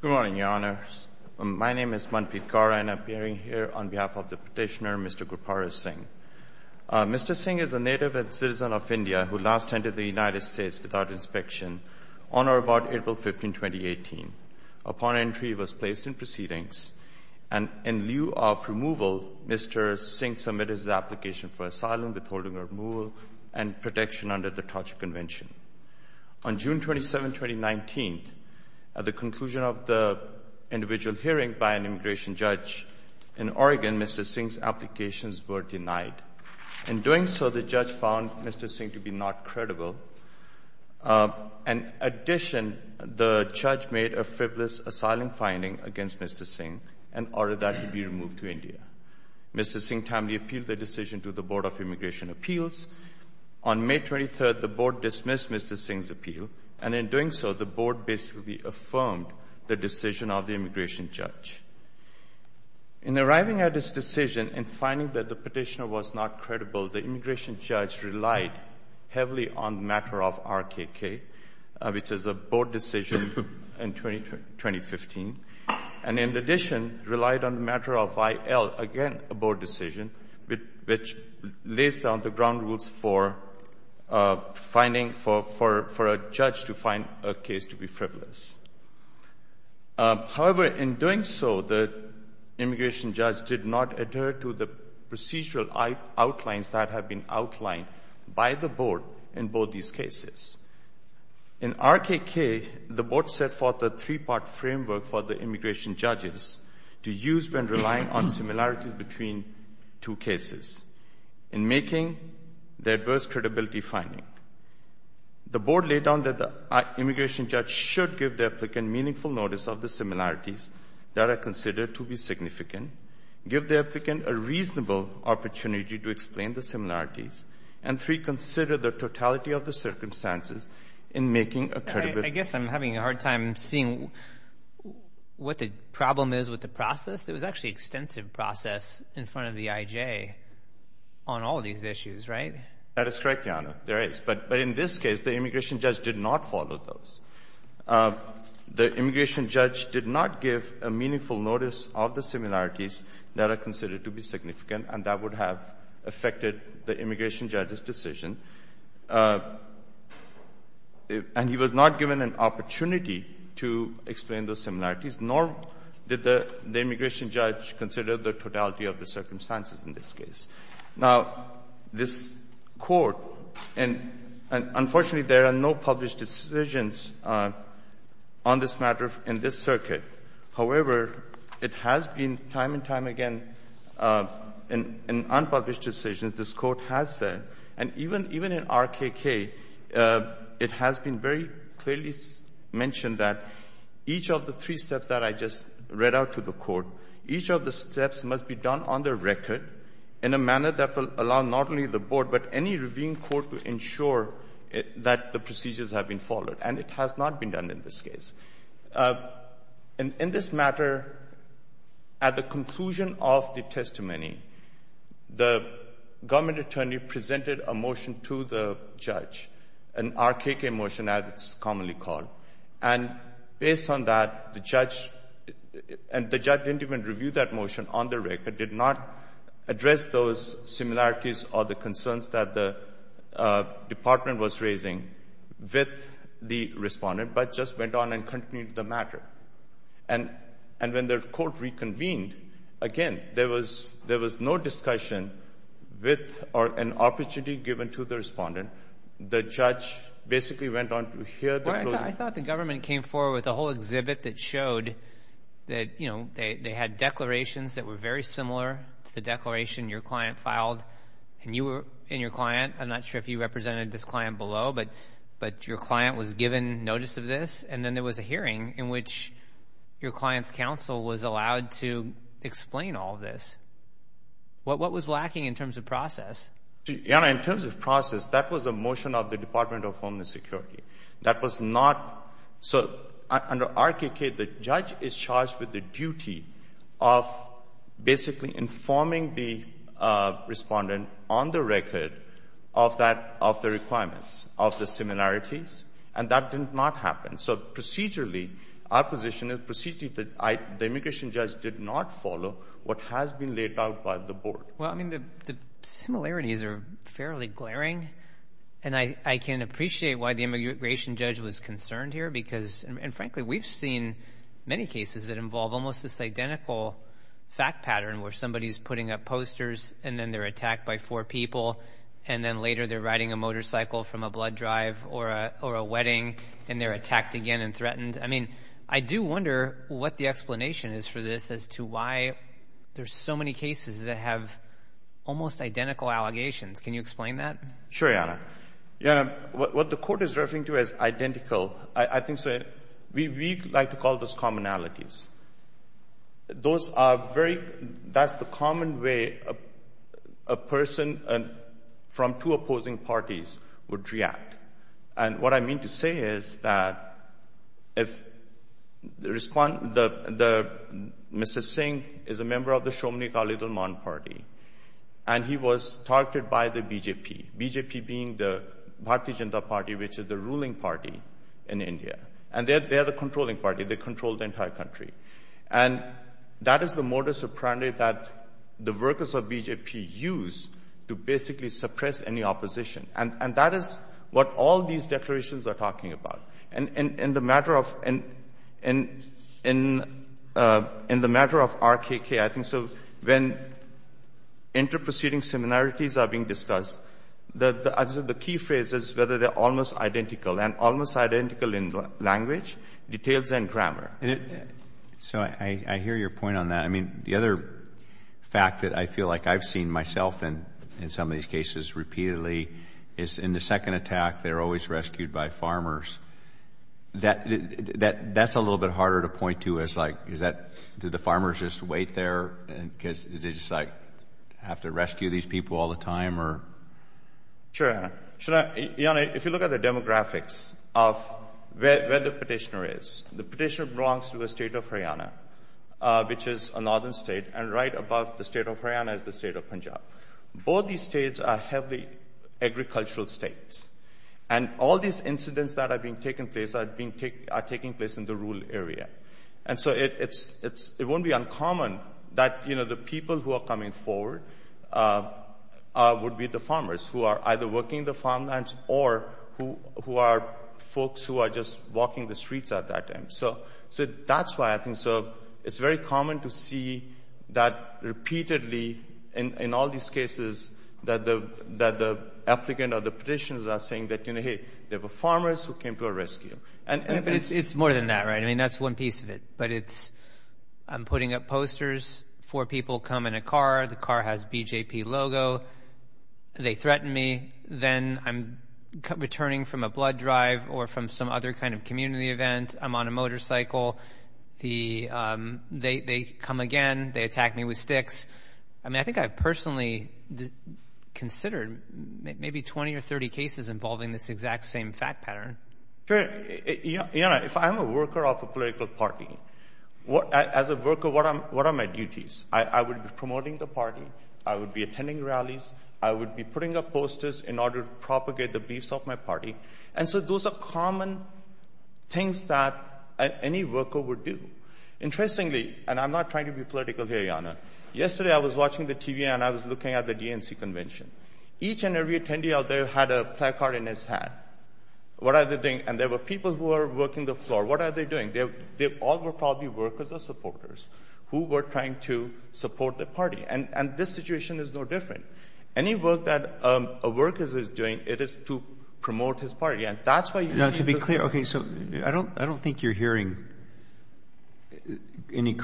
Good morning, Your Honour. My name is Manpreet Garland and I'm appearing here on behalf of the petitioner, Mr. Gurpur Singh. Mr. Singh is a native and citizen of India who last entered the United States without inspection on or about April 15, 2018. Upon entry, he was placed in proceedings and in lieu of removal, Mr. Singh submitted his application for asylum, withholding removal and protection under the Torture Convention. On June 27, 2019, at the conclusion of the individual hearing by an immigration judge in Oregon, Mr. Singh's applications were denied. In doing so, the judge found Mr. Singh to be not credible. In addition, the judge made a frivolous asylum finding against Mr. Singh and ordered that he be removed to India. Mr. Singh timely appealed the decision to the Board of Immigration Appeals. On May 23, the Board dismissed Mr. Singh's appeal. And in doing so, the Board basically affirmed the decision of the immigration judge. In arriving at this decision and finding that the petitioner was not credible, the immigration judge relied heavily on the matter of RKK, which is a Board decision in 2015. And in addition, relied on the matter of IL, again a Board decision, which lays down the ground rules for a judge to find a case to be frivolous. However, in doing so, the immigration judge did not adhere to the procedural outlines that have been outlined by the Board in both these cases. In RKK, the Board set forth a three-part framework for the immigration judges to use when relying on similarities between two cases in making the adverse credibility finding. The Board laid down that the immigration judge should give the applicant meaningful notice of the similarities that are considered to be significant, give the applicant a reasonable opportunity to explain the similarities, and three, consider the totality of the circumstances in making a credible… I guess I'm having a hard time seeing what the problem is with the process. There was actually extensive process in front of the IJ on all these issues, right? That is correct, Jana. There is. But in this case, the immigration judge did not follow those. The immigration judge did not give a meaningful notice of the similarities that are considered to be significant, and that would have affected the immigration judge's decision. And he was not given an opportunity to explain those similarities, nor did the immigration judge consider the totality of the circumstances in this case. Now, this Court, and unfortunately there are no published decisions on this matter in this circuit. However, it has been time and time again in unpublished decisions, this Court has said, and even in RKK, it has been very clearly mentioned that each of the three steps that I just read out to the Court, each of the steps must be done on the record in a manner that will allow not only the Board, but any reviewing Court to ensure that the procedures have been followed. And it has not been done in this case. In this matter, at the conclusion of the testimony, the government attorney presented a motion to the judge, an RKK motion, as it's commonly called. And based on that, the judge, and the judge didn't even review that motion on the record, did not address those similarities or the concerns that the department was raising with the respondent, but just went on and continued the matter. And when the Court reconvened, again, there was no discussion with or an opportunity given to the respondent. The judge basically went on to hear the closing. Well, I thought the government came forward with a whole exhibit that showed that, you know, they had declarations that were very similar to the declaration your client filed. And you were, and your client, I'm not sure if you represented this client below, but your client was given notice of this. And then there was a hearing in which your client's counsel was allowed to explain all this. What was lacking in terms of process? Your Honor, in terms of process, that was a motion of the Department of Homeland Security. That was not, so under RKK, the judge is charged with the duty of basically informing the respondent on the record of that, of the requirements, of the similarities. And that did not happen. So procedurally, our position is procedurally that the immigration judge did not follow what has been laid out by the Board. Well, I mean, the similarities are fairly glaring. And I can appreciate why the immigration judge was concerned here because, and frankly, we've seen many cases that involve almost this identical fact pattern where somebody's putting up posters, and then they're attacked by four people. And then later they're riding a motorcycle from a blood drive or a wedding, and they're attacked again and threatened. I mean, I do wonder what the explanation is for this as to why there's so many cases that have almost identical allegations. Can you explain that? Sure, Your Honor. Your Honor, what the Court is referring to as identical, I think we like to call those commonalities. Those are very, that's the common way a person from two opposing parties would react. And what I mean to say is that if, Mr. Singh is a member of the Somnikar-Lehman Party, and he was targeted by the BJP, BJP being the Bharatiya Janata Party, which is the ruling party in India. And they are the controlling party. They control the entire country. And that is the modus operandi that the workers of BJP use to basically suppress any opposition. And that is what all these declarations are talking about. And in the matter of RKK, I think so, when interpreceding similarities are being discussed, the key phrase is whether they're almost identical, and almost identical in language, details and grammar. So I hear your point on that. I mean, the other fact that I feel like I've seen myself in some of these cases repeatedly is in the second attack, they're always rescued by farmers. That's a little bit harder to point to as, like, is that, do the farmers just wait there because they just, like, have to rescue these people all the time, or? Sure, Your Honor. Your Honor, if you look at the demographics of where the petitioner is, the petitioner belongs to the state of Haryana, which is a northern state, and right above the state of Haryana is the state of Punjab. Both these states are heavily agricultural states. And all these incidents that are taking place are taking place in the rural area. And so it won't be uncommon that, you know, the people who are coming forward would be the farmers, who are either working the farmlands or who are folks who are just walking the streets at that time. So that's why I think it's very common to see that repeatedly in all these cases that the applicant or the petitioners are saying that, you know, hey, there were farmers who came to our rescue. But it's more than that, right? I mean, that's one piece of it. But it's I'm putting up posters, four people come in a car, the car has BJP logo, they threaten me. Then I'm returning from a blood drive or from some other kind of community event. I'm on a motorcycle. They come again. They attack me with sticks. I mean, I think I've personally considered maybe 20 or 30 cases involving this exact same fact pattern. Sure. You know, if I'm a worker of a political party, as a worker, what are my duties? I would be promoting the party. I would be attending rallies. I would be putting up posters in order to propagate the beliefs of my party. And so those are common things that any worker would do. Interestingly, and I'm not trying to be political here, Jana, yesterday I was watching the TV and I was looking at the DNC convention. Each and every attendee out there had a placard in his hand. What are they doing? And there were people who were working the floor. What are they doing? They all were probably workers or supporters who were trying to support the party. And this situation is no different. Any work that a worker is doing, it is to promote his party. And that's why you see the— Now, to be clear, okay, so I don't think you're hearing any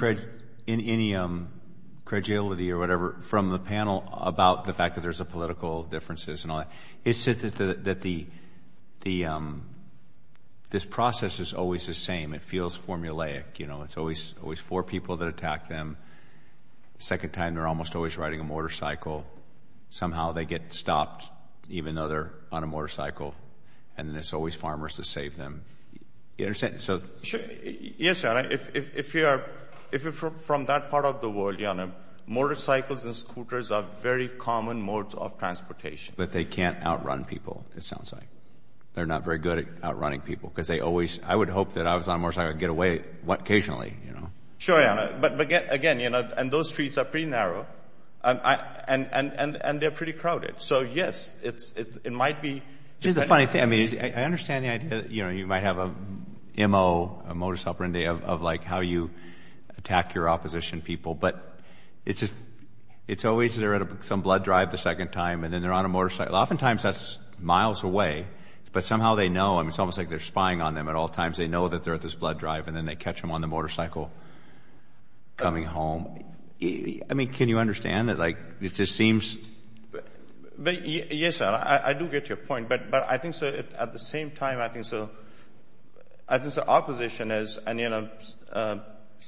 credulity or whatever from the panel about the fact that there's a political differences and all that. It's just that this process is always the same. It feels formulaic. You know, it's always four people that attack them. The second time they're almost always riding a motorcycle. Somehow they get stopped even though they're on a motorcycle. And then it's always farmers that save them. You understand? Yes, Jana. If you're from that part of the world, Jana, motorcycles and scooters are very common modes of transportation. But they can't outrun people, it sounds like. They're not very good at outrunning people because they always— I would hope that I was on a motorcycle, I'd get away occasionally, you know. Sure, Jana. But, again, you know, and those streets are pretty narrow, and they're pretty crowded. So, yes, it might be— It's just a funny thing. I mean, I understand the idea, you know, you might have a M.O., a motorcycling day, of, like, how you attack your opposition people. But it's always they're at some blood drive the second time, and then they're on a motorcycle. Oftentimes that's miles away, but somehow they know. I mean, it's almost like they're spying on them at all times. They know that they're at this blood drive, and then they catch them on the motorcycle coming home. I mean, can you understand that, like, it just seems— Yes, sir, I do get your point. But I think, sir, at the same time, I think, sir, our position is, and, you know,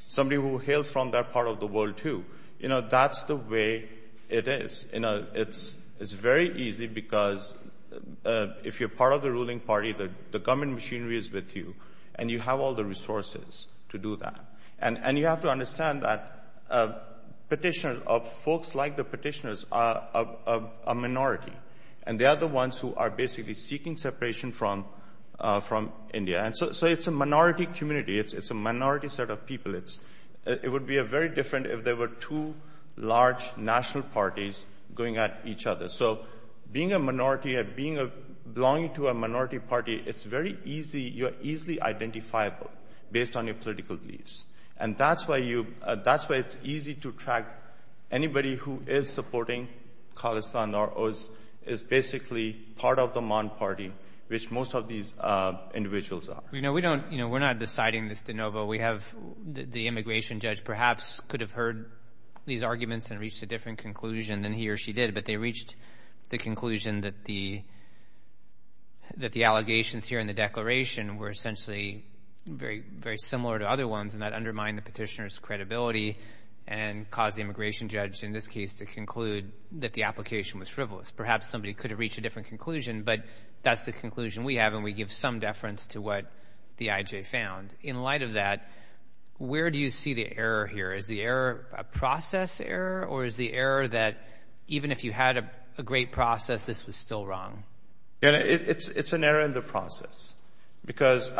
somebody who hails from that part of the world, too, you know, that's the way it is. It's very easy because if you're part of the ruling party, the government machinery is with you, and you have all the resources to do that. And you have to understand that petitioners, folks like the petitioners, are a minority. And they are the ones who are basically seeking separation from India. So it's a minority community. It's a minority set of people. It would be very different if there were two large national parties going at each other. So being a minority, belonging to a minority party, it's very easy. You're easily identifiable based on your political beliefs. And that's why it's easy to track anybody who is supporting Khalistan or is basically part of the Maan party, which most of these individuals are. You know, we're not deciding this de novo. We have the immigration judge perhaps could have heard these arguments and reached a different conclusion than he or she did, but they reached the conclusion that the allegations here in the declaration were essentially very similar to other ones, and that undermined the petitioner's credibility and caused the immigration judge, in this case, to conclude that the application was frivolous. Perhaps somebody could have reached a different conclusion, but that's the conclusion we have, and we give some deference to what the IJ found. And in light of that, where do you see the error here? Is the error a process error, or is the error that even if you had a great process, this was still wrong? It's an error in the process because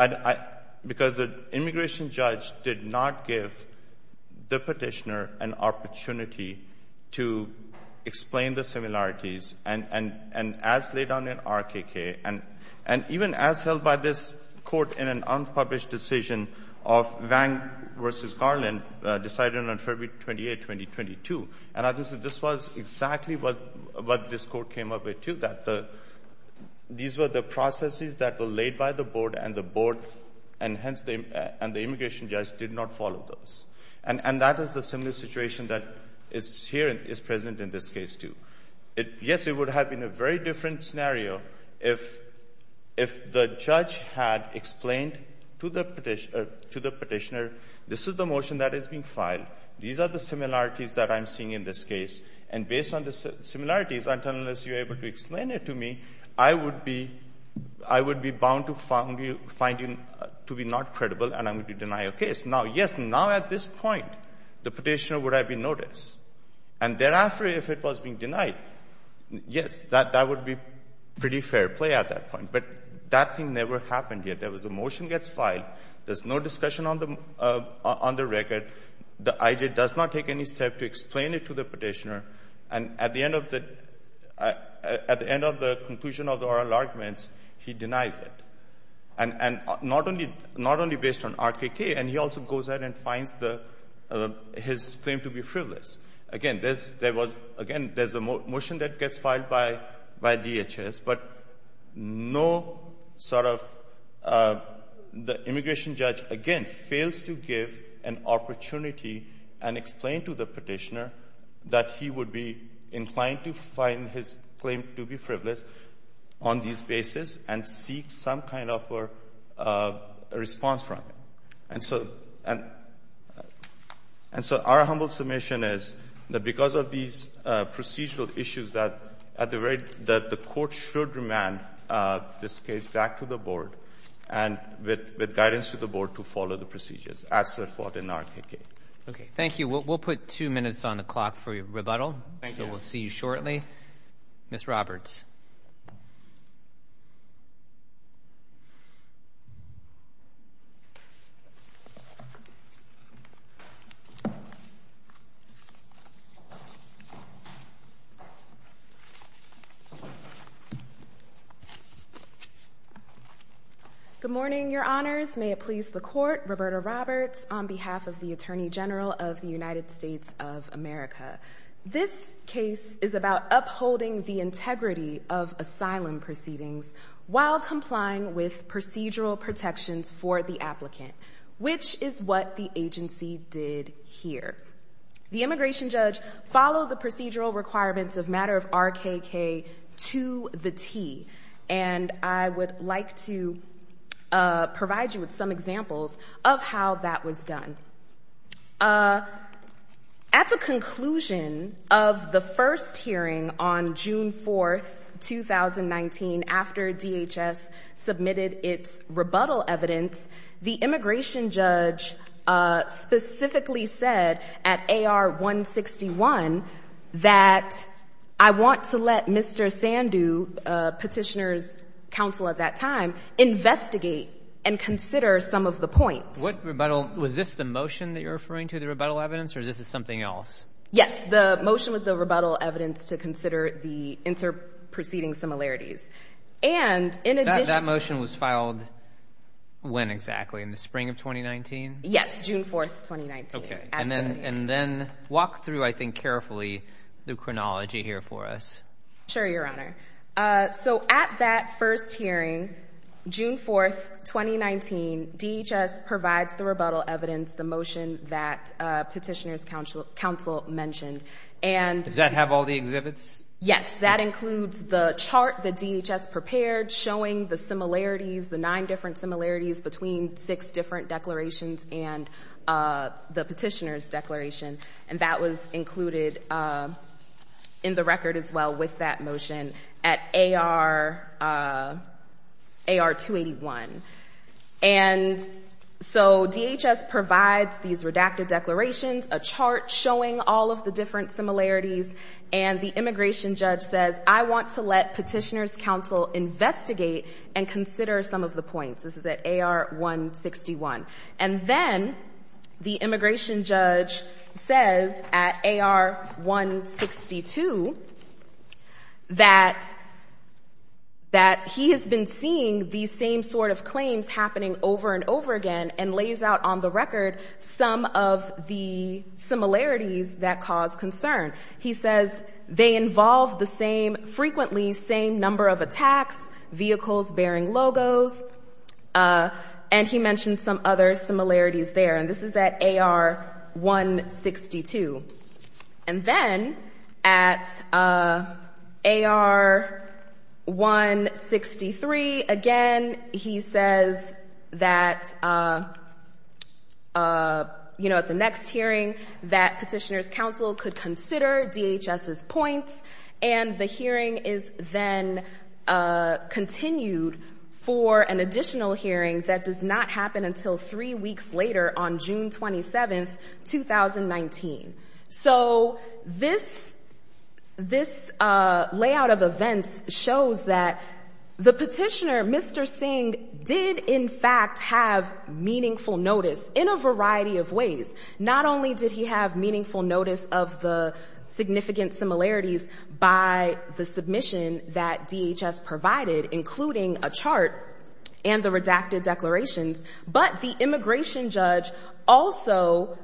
the immigration judge did not give the petitioner an opportunity to explain the similarities. And as laid down in RKK, and even as held by this Court in an unpublished decision of Vang v. Garland, decided on February 28, 2022, and I think this was exactly what this Court came up with, too, that these were the processes that were laid by the Board, and the Board and the immigration judge did not follow those. And that is the similar situation that is here and is present in this case, too. Yes, it would have been a very different scenario if the judge had explained to the petitioner, this is the motion that is being filed, these are the similarities that I'm seeing in this case, and based on the similarities, unless you're able to explain it to me, I would be bound to find you to be not credible and I'm going to deny your case. Now, yes, now at this point, the petitioner would have been noticed. And thereafter, if it was being denied, yes, that would be pretty fair play at that point. But that thing never happened yet. There was a motion gets filed, there's no discussion on the record, the IJ does not take any step to explain it to the petitioner, and at the end of the conclusion of the oral arguments, he denies it. And not only based on RKK, and he also goes out and finds his claim to be frivolous. Again, there's a motion that gets filed by DHS, but no sort of immigration judge, again, fails to give an opportunity and explain to the petitioner that he would be inclined to find his claim to be frivolous on this basis and seek some kind of a response from it. And so our humble submission is that because of these procedural issues, that at the rate that the Court should remand this case back to the Board and with guidance to the Board to follow the procedures as set forth in RKK. Okay. Thank you. We'll put two minutes on the clock for rebuttal. Thank you. So we'll see you shortly. Ms. Roberts. Good morning, Your Honors. May it please the Court, Roberta Roberts, on behalf of the Attorney General of the United States of America. This case is about upholding the integrity of asylum proceedings while complying with procedural protections for the applicant, which is what the agency did here. The immigration judge followed the procedural requirements of matter of RKK to the T, and I would like to provide you with some examples of how that was done. At the conclusion of the first hearing on June 4th, 2019, after DHS submitted its rebuttal evidence, the immigration judge specifically said at AR-161 that I want to let Mr. Sandhu, Petitioner's counsel at that time, investigate and consider some of the points. What rebuttal? Was this the motion that you're referring to, the rebuttal evidence, or is this something else? Yes. The motion was the rebuttal evidence to consider the inter-proceeding similarities. That motion was filed when exactly, in the spring of 2019? Yes, June 4th, 2019. Okay. And then walk through, I think, carefully the chronology here for us. Sure, Your Honor. So at that first hearing, June 4th, 2019, DHS provides the rebuttal evidence, the motion that Petitioner's counsel mentioned. Does that have all the exhibits? Yes. That includes the chart that DHS prepared showing the similarities, the nine different similarities between six different declarations and the Petitioner's declaration, and that was included in the record as well with that motion at AR-281. And so DHS provides these redacted declarations, a chart showing all of the different similarities, and the immigration judge says, I want to let Petitioner's counsel investigate and consider some of the points. This is at AR-161. And then the immigration judge says at AR-162 that he has been seeing these same sort of claims happening over and over again and lays out on the record some of the similarities that cause concern. He says they involve the same, frequently same number of attacks, vehicles bearing logos, and he mentions some other similarities there. And this is at AR-162. And then at AR-163, again, he says that, you know, at the next hearing that Petitioner's counsel could consider DHS's points, and the hearing is then continued for an additional hearing that does not happen until three weeks later on June 27, 2019. So this layout of events shows that the Petitioner, Mr. Singh, did in fact have meaningful notice in a variety of ways. Not only did he have meaningful notice of the significant similarities by the submission that DHS provided, including a chart and the redacted declarations, but the immigration judge also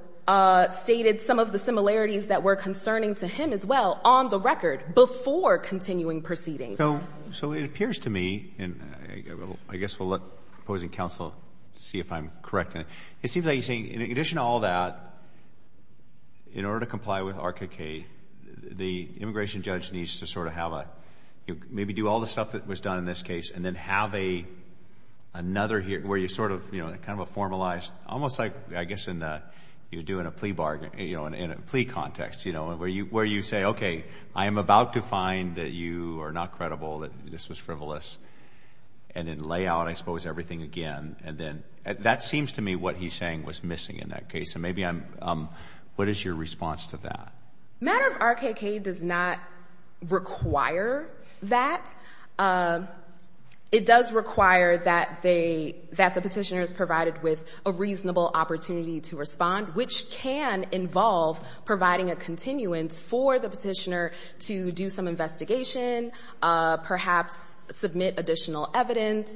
stated some of the similarities that were concerning to him as well on the record before continuing proceedings. So it appears to me, and I guess we'll let opposing counsel see if I'm correct in it, it seems like he's saying in addition to all that, in order to comply with ARCA-K, the immigration judge needs to sort of have a, maybe do all the stuff that was done in this case and then have another hearing where you sort of, you know, kind of a formalized, almost like, I guess, you're doing a plea bargain, you know, in a plea context, you know, where you say, okay, I am about to find that you are not credible, that this was frivolous. And then lay out, I suppose, everything again, and then that seems to me what he's saying was missing in that case. And maybe I'm, what is your response to that? Matter of ARCA-K does not require that. It does require that the petitioner is provided with a reasonable opportunity to respond, which can involve providing a continuance for the petitioner to do some investigation, perhaps submit additional evidence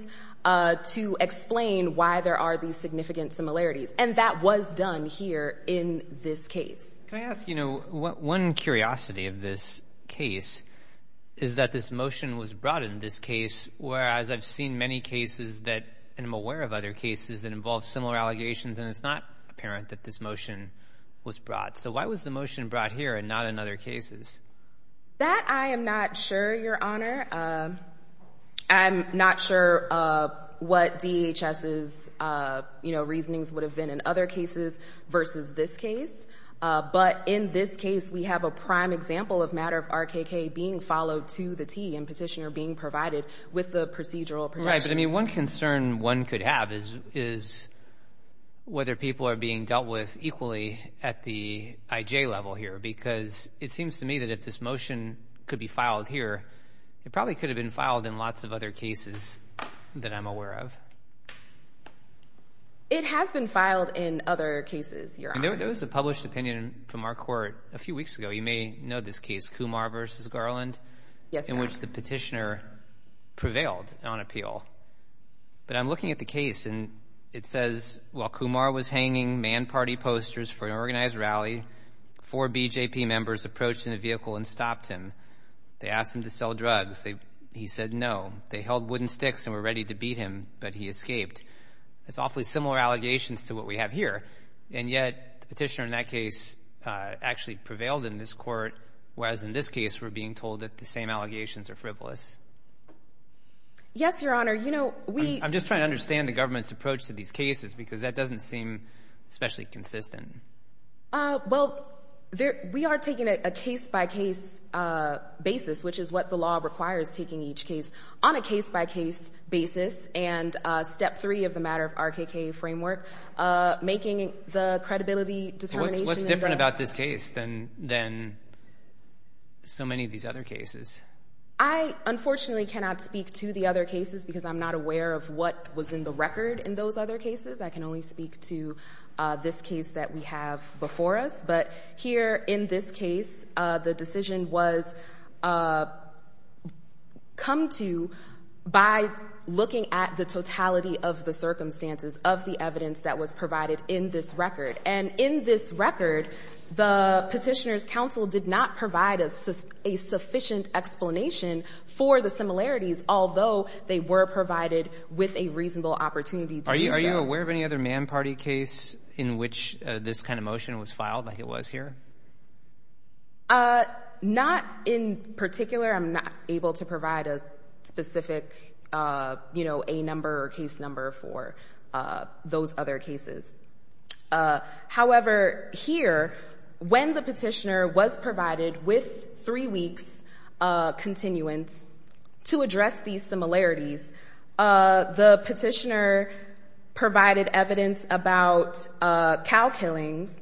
to explain why there are these significant similarities. And that was done here in this case. Can I ask, you know, one curiosity of this case is that this motion was brought in this case, whereas I've seen many cases that, and I'm aware of other cases that involve similar allegations, and it's not apparent that this motion was brought. So why was the motion brought here and not in other cases? That I am not sure, Your Honor. I'm not sure what DHS's, you know, reasonings would have been in other cases versus this case. But in this case, we have a prime example of Matter of ARCA-K being followed to the T and petitioner being provided with the procedural protections. But, I mean, one concern one could have is whether people are being dealt with equally at the IJ level here because it seems to me that if this motion could be filed here, it probably could have been filed in lots of other cases that I'm aware of. It has been filed in other cases, Your Honor. There was a published opinion from our court a few weeks ago. You may know this case, Kumar v. Garland, in which the petitioner prevailed on appeal. But I'm looking at the case, and it says, That's awfully similar allegations to what we have here, and yet the petitioner in that case actually prevailed in this court, whereas in this case we're being told that the same allegations are frivolous. I'm just trying to understand the government's approach to these cases because that doesn't seem especially consistent. Well, we are taking a case-by-case basis, which is what the law requires, taking each case on a case-by-case basis, and step three of the matter of RKK framework, making the credibility determination What's different about this case than so many of these other cases? I, unfortunately, cannot speak to the other cases because I'm not aware of what was in the record in those other cases. I can only speak to this case that we have before us. But here in this case, the decision was come to by looking at the record and looking at the totality of the circumstances of the evidence that was provided in this record. And in this record, the petitioner's counsel did not provide a sufficient explanation for the similarities, although they were provided with a reasonable opportunity to do so. Are you aware of any other Man Party case in which this kind of motion was filed, like it was here? Not in particular. I'm not able to provide a specific, you know, a number or case number for those other cases. However, here, when the petitioner was provided with three weeks' continuance to address these similarities, the petitioner provided evidence about cow killings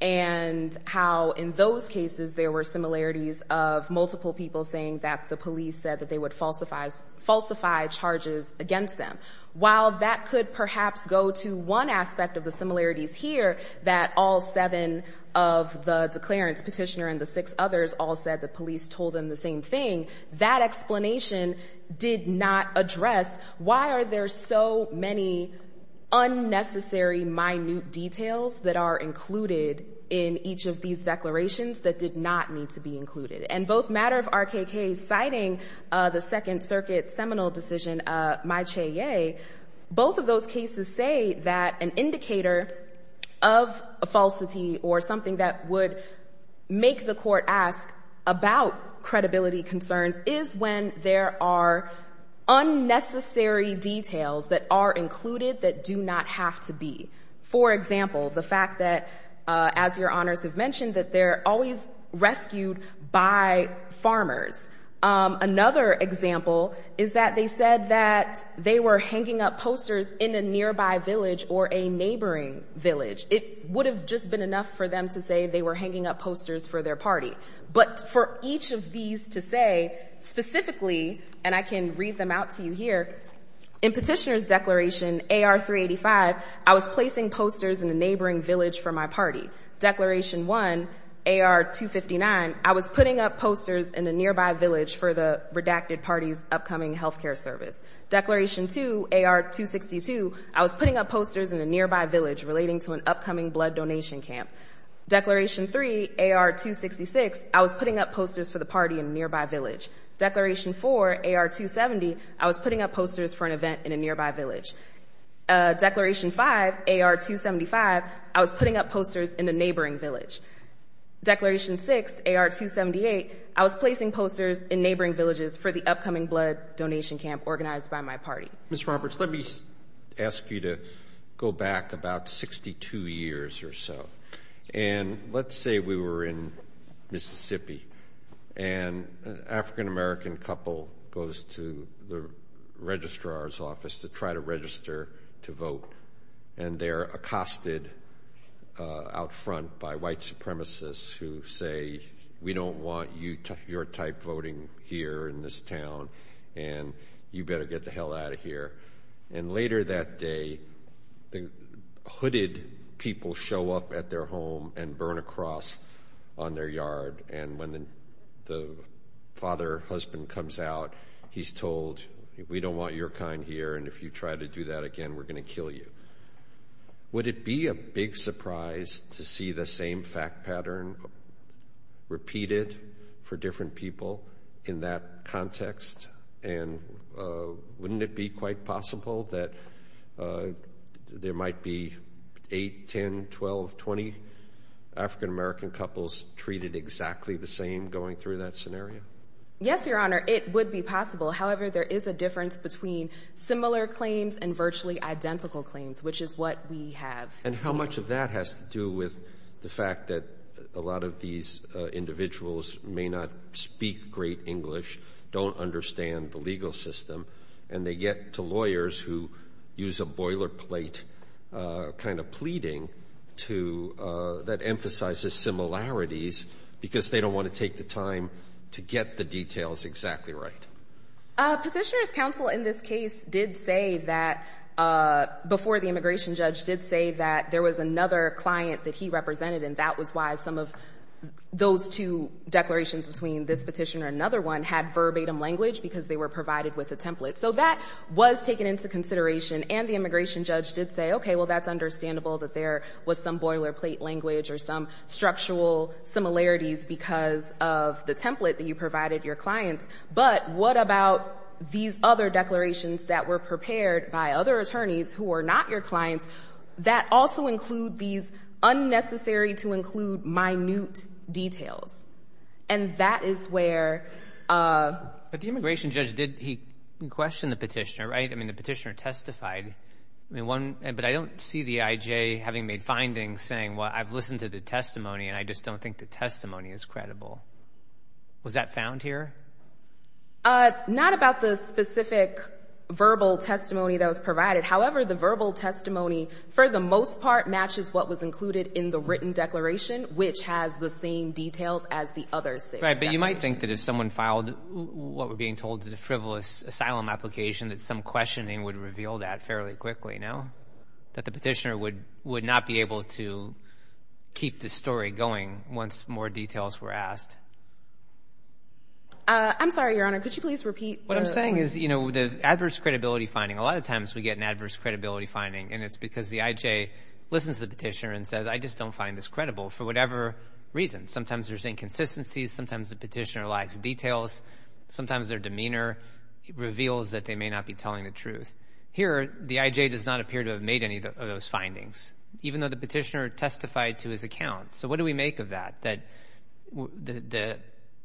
and how in those cases there were similarities of multiple people saying that the police said that they would falsify charges against them. While that could perhaps go to one aspect of the similarities here, that all seven of the declarants, petitioner and the six others, all said the police told them the same thing, that explanation did not address why are there so many unnecessary minute details that are included in the each of these declarations that did not need to be included. And both Matter of RKK's citing the Second Circuit seminal decision, my Cheye, both of those cases say that an indicator of a falsity or something that would make the court ask about credibility concerns is when there are unnecessary details that are included that do not have to be. For example, the fact that, as Your Honors have mentioned, that they're always rescued by farmers. Another example is that they said that they were hanging up posters in a nearby village or a neighboring village. It would have just been enough for them to say they were hanging up posters for their party. But for each of these to say specifically, and I can read them out to you here, in Petitioner's Declaration AR385, I was placing posters in a neighboring village for my party. Declaration 1, AR259, I was putting up posters in a nearby village for the redacted party's upcoming health care service. Declaration 2, AR262, I was putting up posters in a nearby village relating to an upcoming blood donation camp. Declaration 3, AR266, I was putting up posters for the party in a nearby village. Declaration 4, AR270, I was putting up posters for an event in a nearby village. Declaration 5, AR275, I was putting up posters in a neighboring village. Declaration 6, AR278, I was placing posters in neighboring villages for the upcoming blood donation camp organized by my party. Mr. Roberts, let me ask you to go back about 62 years or so. And let's say we were in Mississippi. And an African American couple goes to the registrar's office to try to register to vote. And they're accosted out front by white supremacists who say, we don't want your type voting here in this town, and you better get the hell out of here. And later that day, the hooded people show up at their home and burn a cross on their yard. And when the father, husband comes out, he's told, we don't want your kind here. And if you try to do that again, we're going to kill you. Would it be a big surprise to see the same fact pattern repeated for different people in that context? And wouldn't it be quite possible that there might be 8, 10, 12, 20 African American couples treated exactly the same? Yes, Your Honor, it would be possible. However, there is a difference between similar claims and virtually identical claims, which is what we have. And how much of that has to do with the fact that a lot of these individuals may not speak great English, don't understand the legal system, and they get to lawyers who use a boilerplate kind of pleading that emphasizes similarities because they don't want to take the time to get the details exactly right. Petitioner's counsel in this case did say that, before the immigration judge, did say that there was another client that he represented, and that was why some of those two declarations between this petitioner and another one had verbatim language because they were provided with a template. So that was taken into consideration, and the immigration judge did say, okay, well, that's understandable that there was some boilerplate language or some structural similarities because of the template that you provided your clients. But what about these other declarations that were prepared by other attorneys who were not your clients that also include these unnecessary-to-include minute details? And that is where... But the immigration judge, he questioned the petitioner, right? I mean, the petitioner testified. But I don't see the IJ having made findings saying, well, I've listened to the testimony, and I just don't think the testimony is credible. Was that found here? Not about the specific verbal testimony that was provided. However, the verbal testimony, for the most part, matches what was included in the written declaration, which has the same details as the other six. Right, but you might think that if someone filed what we're being told is a frivolous asylum application, that some questioning would reveal that fairly quickly, no? That the petitioner would not be able to keep the story going once more details were asked. I'm sorry, Your Honor. Could you please repeat? What I'm saying is, you know, the adverse credibility finding, a lot of times we get an adverse credibility finding, and it's because the IJ listens to the petitioner and says, I just don't find this credible, for whatever reason. Sometimes there's inconsistencies. Sometimes the petitioner lacks details. Sometimes their demeanor reveals that they may not be telling the truth. Here, the IJ does not appear to have made any of those findings, even though the petitioner testified to his account. So what do we make of that, that the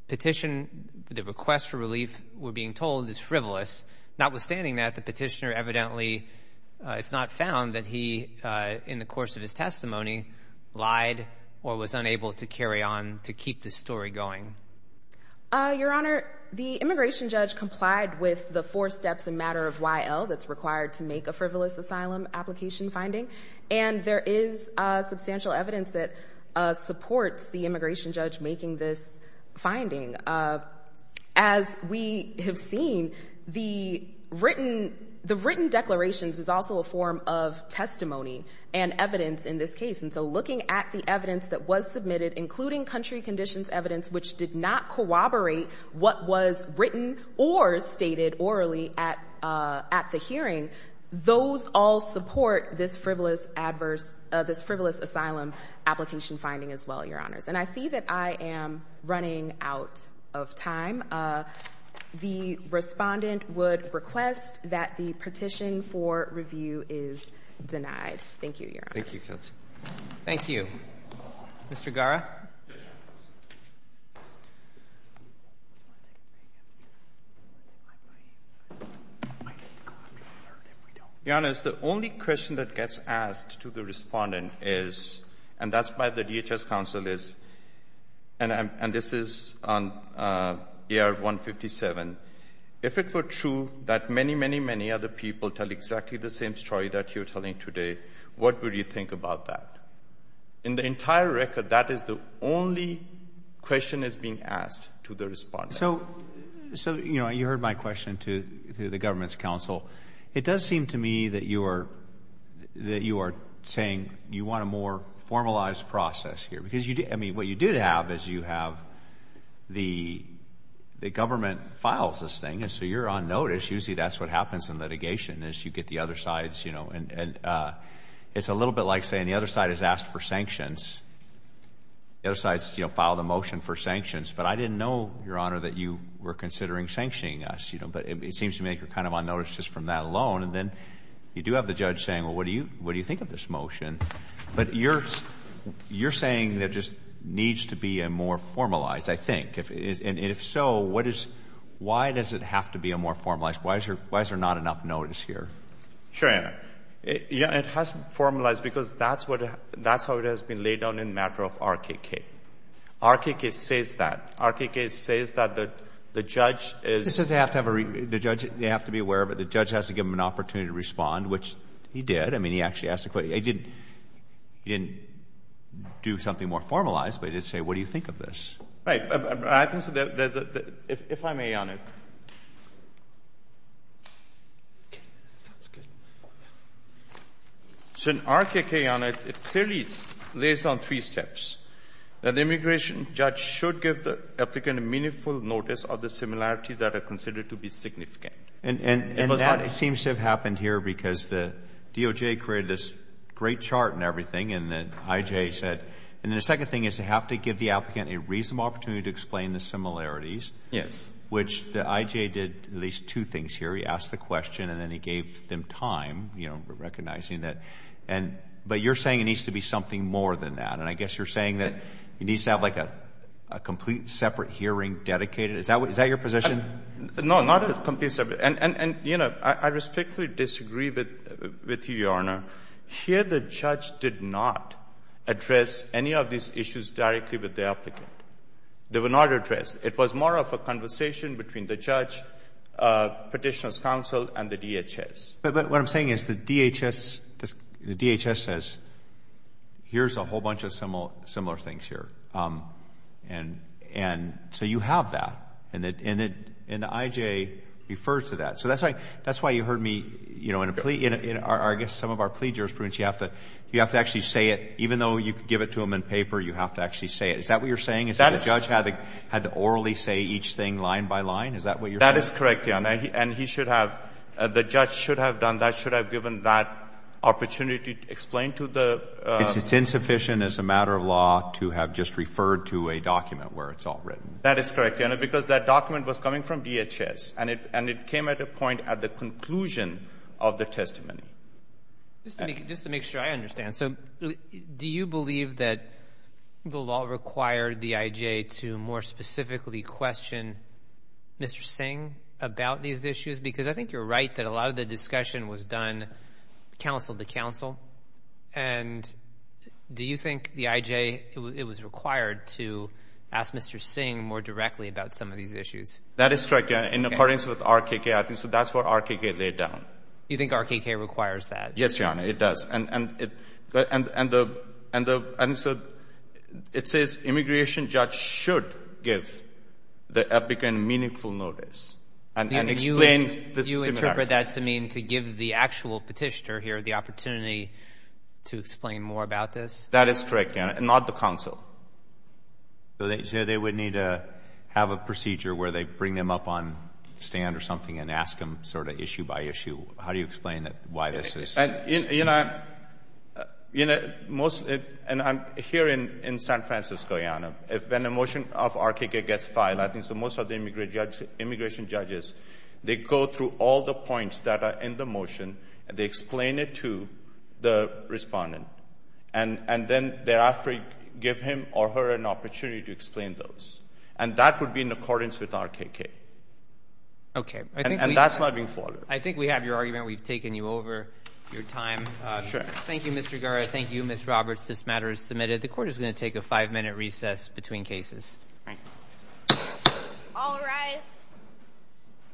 petition, the request for relief we're being told is frivolous? Notwithstanding that, the petitioner evidently, it's not found that he, in the course of his testimony, lied or was unable to carry on to keep the story going. Your Honor, the immigration judge complied with the four steps in matter of Y.L. that's required to make a frivolous asylum application finding. And there is substantial evidence that supports the immigration judge making this finding. As we have seen, the written declarations is also a form of testimony and evidence in this case. And so looking at the evidence that was submitted, including country conditions evidence, which did not corroborate what was written or stated orally at the hearing, those all support this frivolous asylum application finding as well, Your Honors. And I see that I am running out of time. The respondent would request that the petition for review is denied. Thank you, Your Honors. Your Honors, the only question that gets asked to the respondent is, and that's why the DHS counsel is, and this is on ER 157, if it were true that many, many, many other people tell exactly the same story that you're telling today, what would you think about that? In the entire record, that is the only question that's being asked to the respondent. So, you know, you heard my question to the government's counsel. It does seem to me that you are saying you want a more formalized process here, because, I mean, what you did have is you have the government files this thing, and so you're on notice. Usually that's what happens in litigation is you get the other side's, you know, and it's a little bit like saying the other side has asked for sanctions. The other side's filed a motion for sanctions. But I didn't know, Your Honor, that you were considering sanctioning us. But it seems to me you're kind of on notice just from that alone. And then you do have the judge saying, well, what do you think of this motion? But you're saying there just needs to be a more formalized, I think. And if so, what is — why does it have to be a more formalized? Why is there not enough notice here? Sure, Your Honor. It has to be formalized because that's what — that's how it has been laid down in the matter of RKK. RKK says that. RKK says that the judge is — It says they have to have a — the judge — they have to be aware of it. The judge has to give them an opportunity to respond, which he did. I mean, he actually asked a question. He didn't — he didn't do something more formalized, but he did say, what do you think of this? I think so. There's a — if I may, Your Honor. So in RKK, Your Honor, it clearly lays down three steps. An immigration judge should give the applicant a meaningful notice of the similarities that are considered to be significant. And that seems to have happened here because the DOJ created this great chart and everything, and the IJ said — and then the second thing is they have to give the applicant a reasonable opportunity to explain the similarities. Yes. Which the IJ did at least two things here. He asked the question, and then he gave them time, you know, recognizing that. And — but you're saying it needs to be something more than that. And I guess you're saying that it needs to have like a complete separate hearing dedicated. Is that what — is that your position? No, not a complete separate — and, you know, I respectfully disagree with you, Your Honor. Here the judge did not address any of these issues directly with the applicant. They were not addressed. It was more of a conversation between the judge, Petitioner's counsel, and the DHS. But what I'm saying is the DHS — the DHS says, here's a whole bunch of similar things here. And so you have that. And the IJ refers to that. So that's why you heard me, you know, in a plea — I guess some of our plea jurisprudence, you have to actually say it. Even though you could give it to them in paper, you have to actually say it. Is that what you're saying? Is that the judge had to orally say each thing line by line? Is that what you're saying? That is correct, Your Honor. And he should have — the judge should have done that, should have given that opportunity to explain to the — It's insufficient as a matter of law to have just referred to a document where it's all written. That is correct, Your Honor, because that document was coming from DHS. And it came at a point at the conclusion of the testimony. Just to make sure I understand. So do you believe that the law required the IJ to more specifically question Mr. Singh about these issues? Because I think you're right that a lot of the discussion was done counsel to counsel. And do you think the IJ — it was required to ask Mr. Singh more directly about some of these issues? That is correct, Your Honor, in accordance with RKK. I think that's what RKK laid down. You think RKK requires that? Yes, Your Honor, it does. And the — and so it says immigration judge should give the applicant meaningful notice. Do you interpret that to mean to give the actual petitioner here the opportunity to explain more about this? That is correct, Your Honor, not the counsel. So they would need to have a procedure where they bring them up on stand or something and ask them sort of issue by issue. How do you explain why this is? You know, most — and I'm here in San Francisco, Your Honor. When a motion of RKK gets filed, I think most of the immigration judges, they go through all the points that are in the motion, and they explain it to the respondent. And then thereafter, give him or her an opportunity to explain those. And that would be in accordance with RKK. Okay. And that's not being followed. I think we have your argument. We've taken you over your time. Sure. Thank you, Mr. Garra. Thank you, Ms. Roberts. This matter is submitted. The court is going to take a five-minute recess between cases. All rise.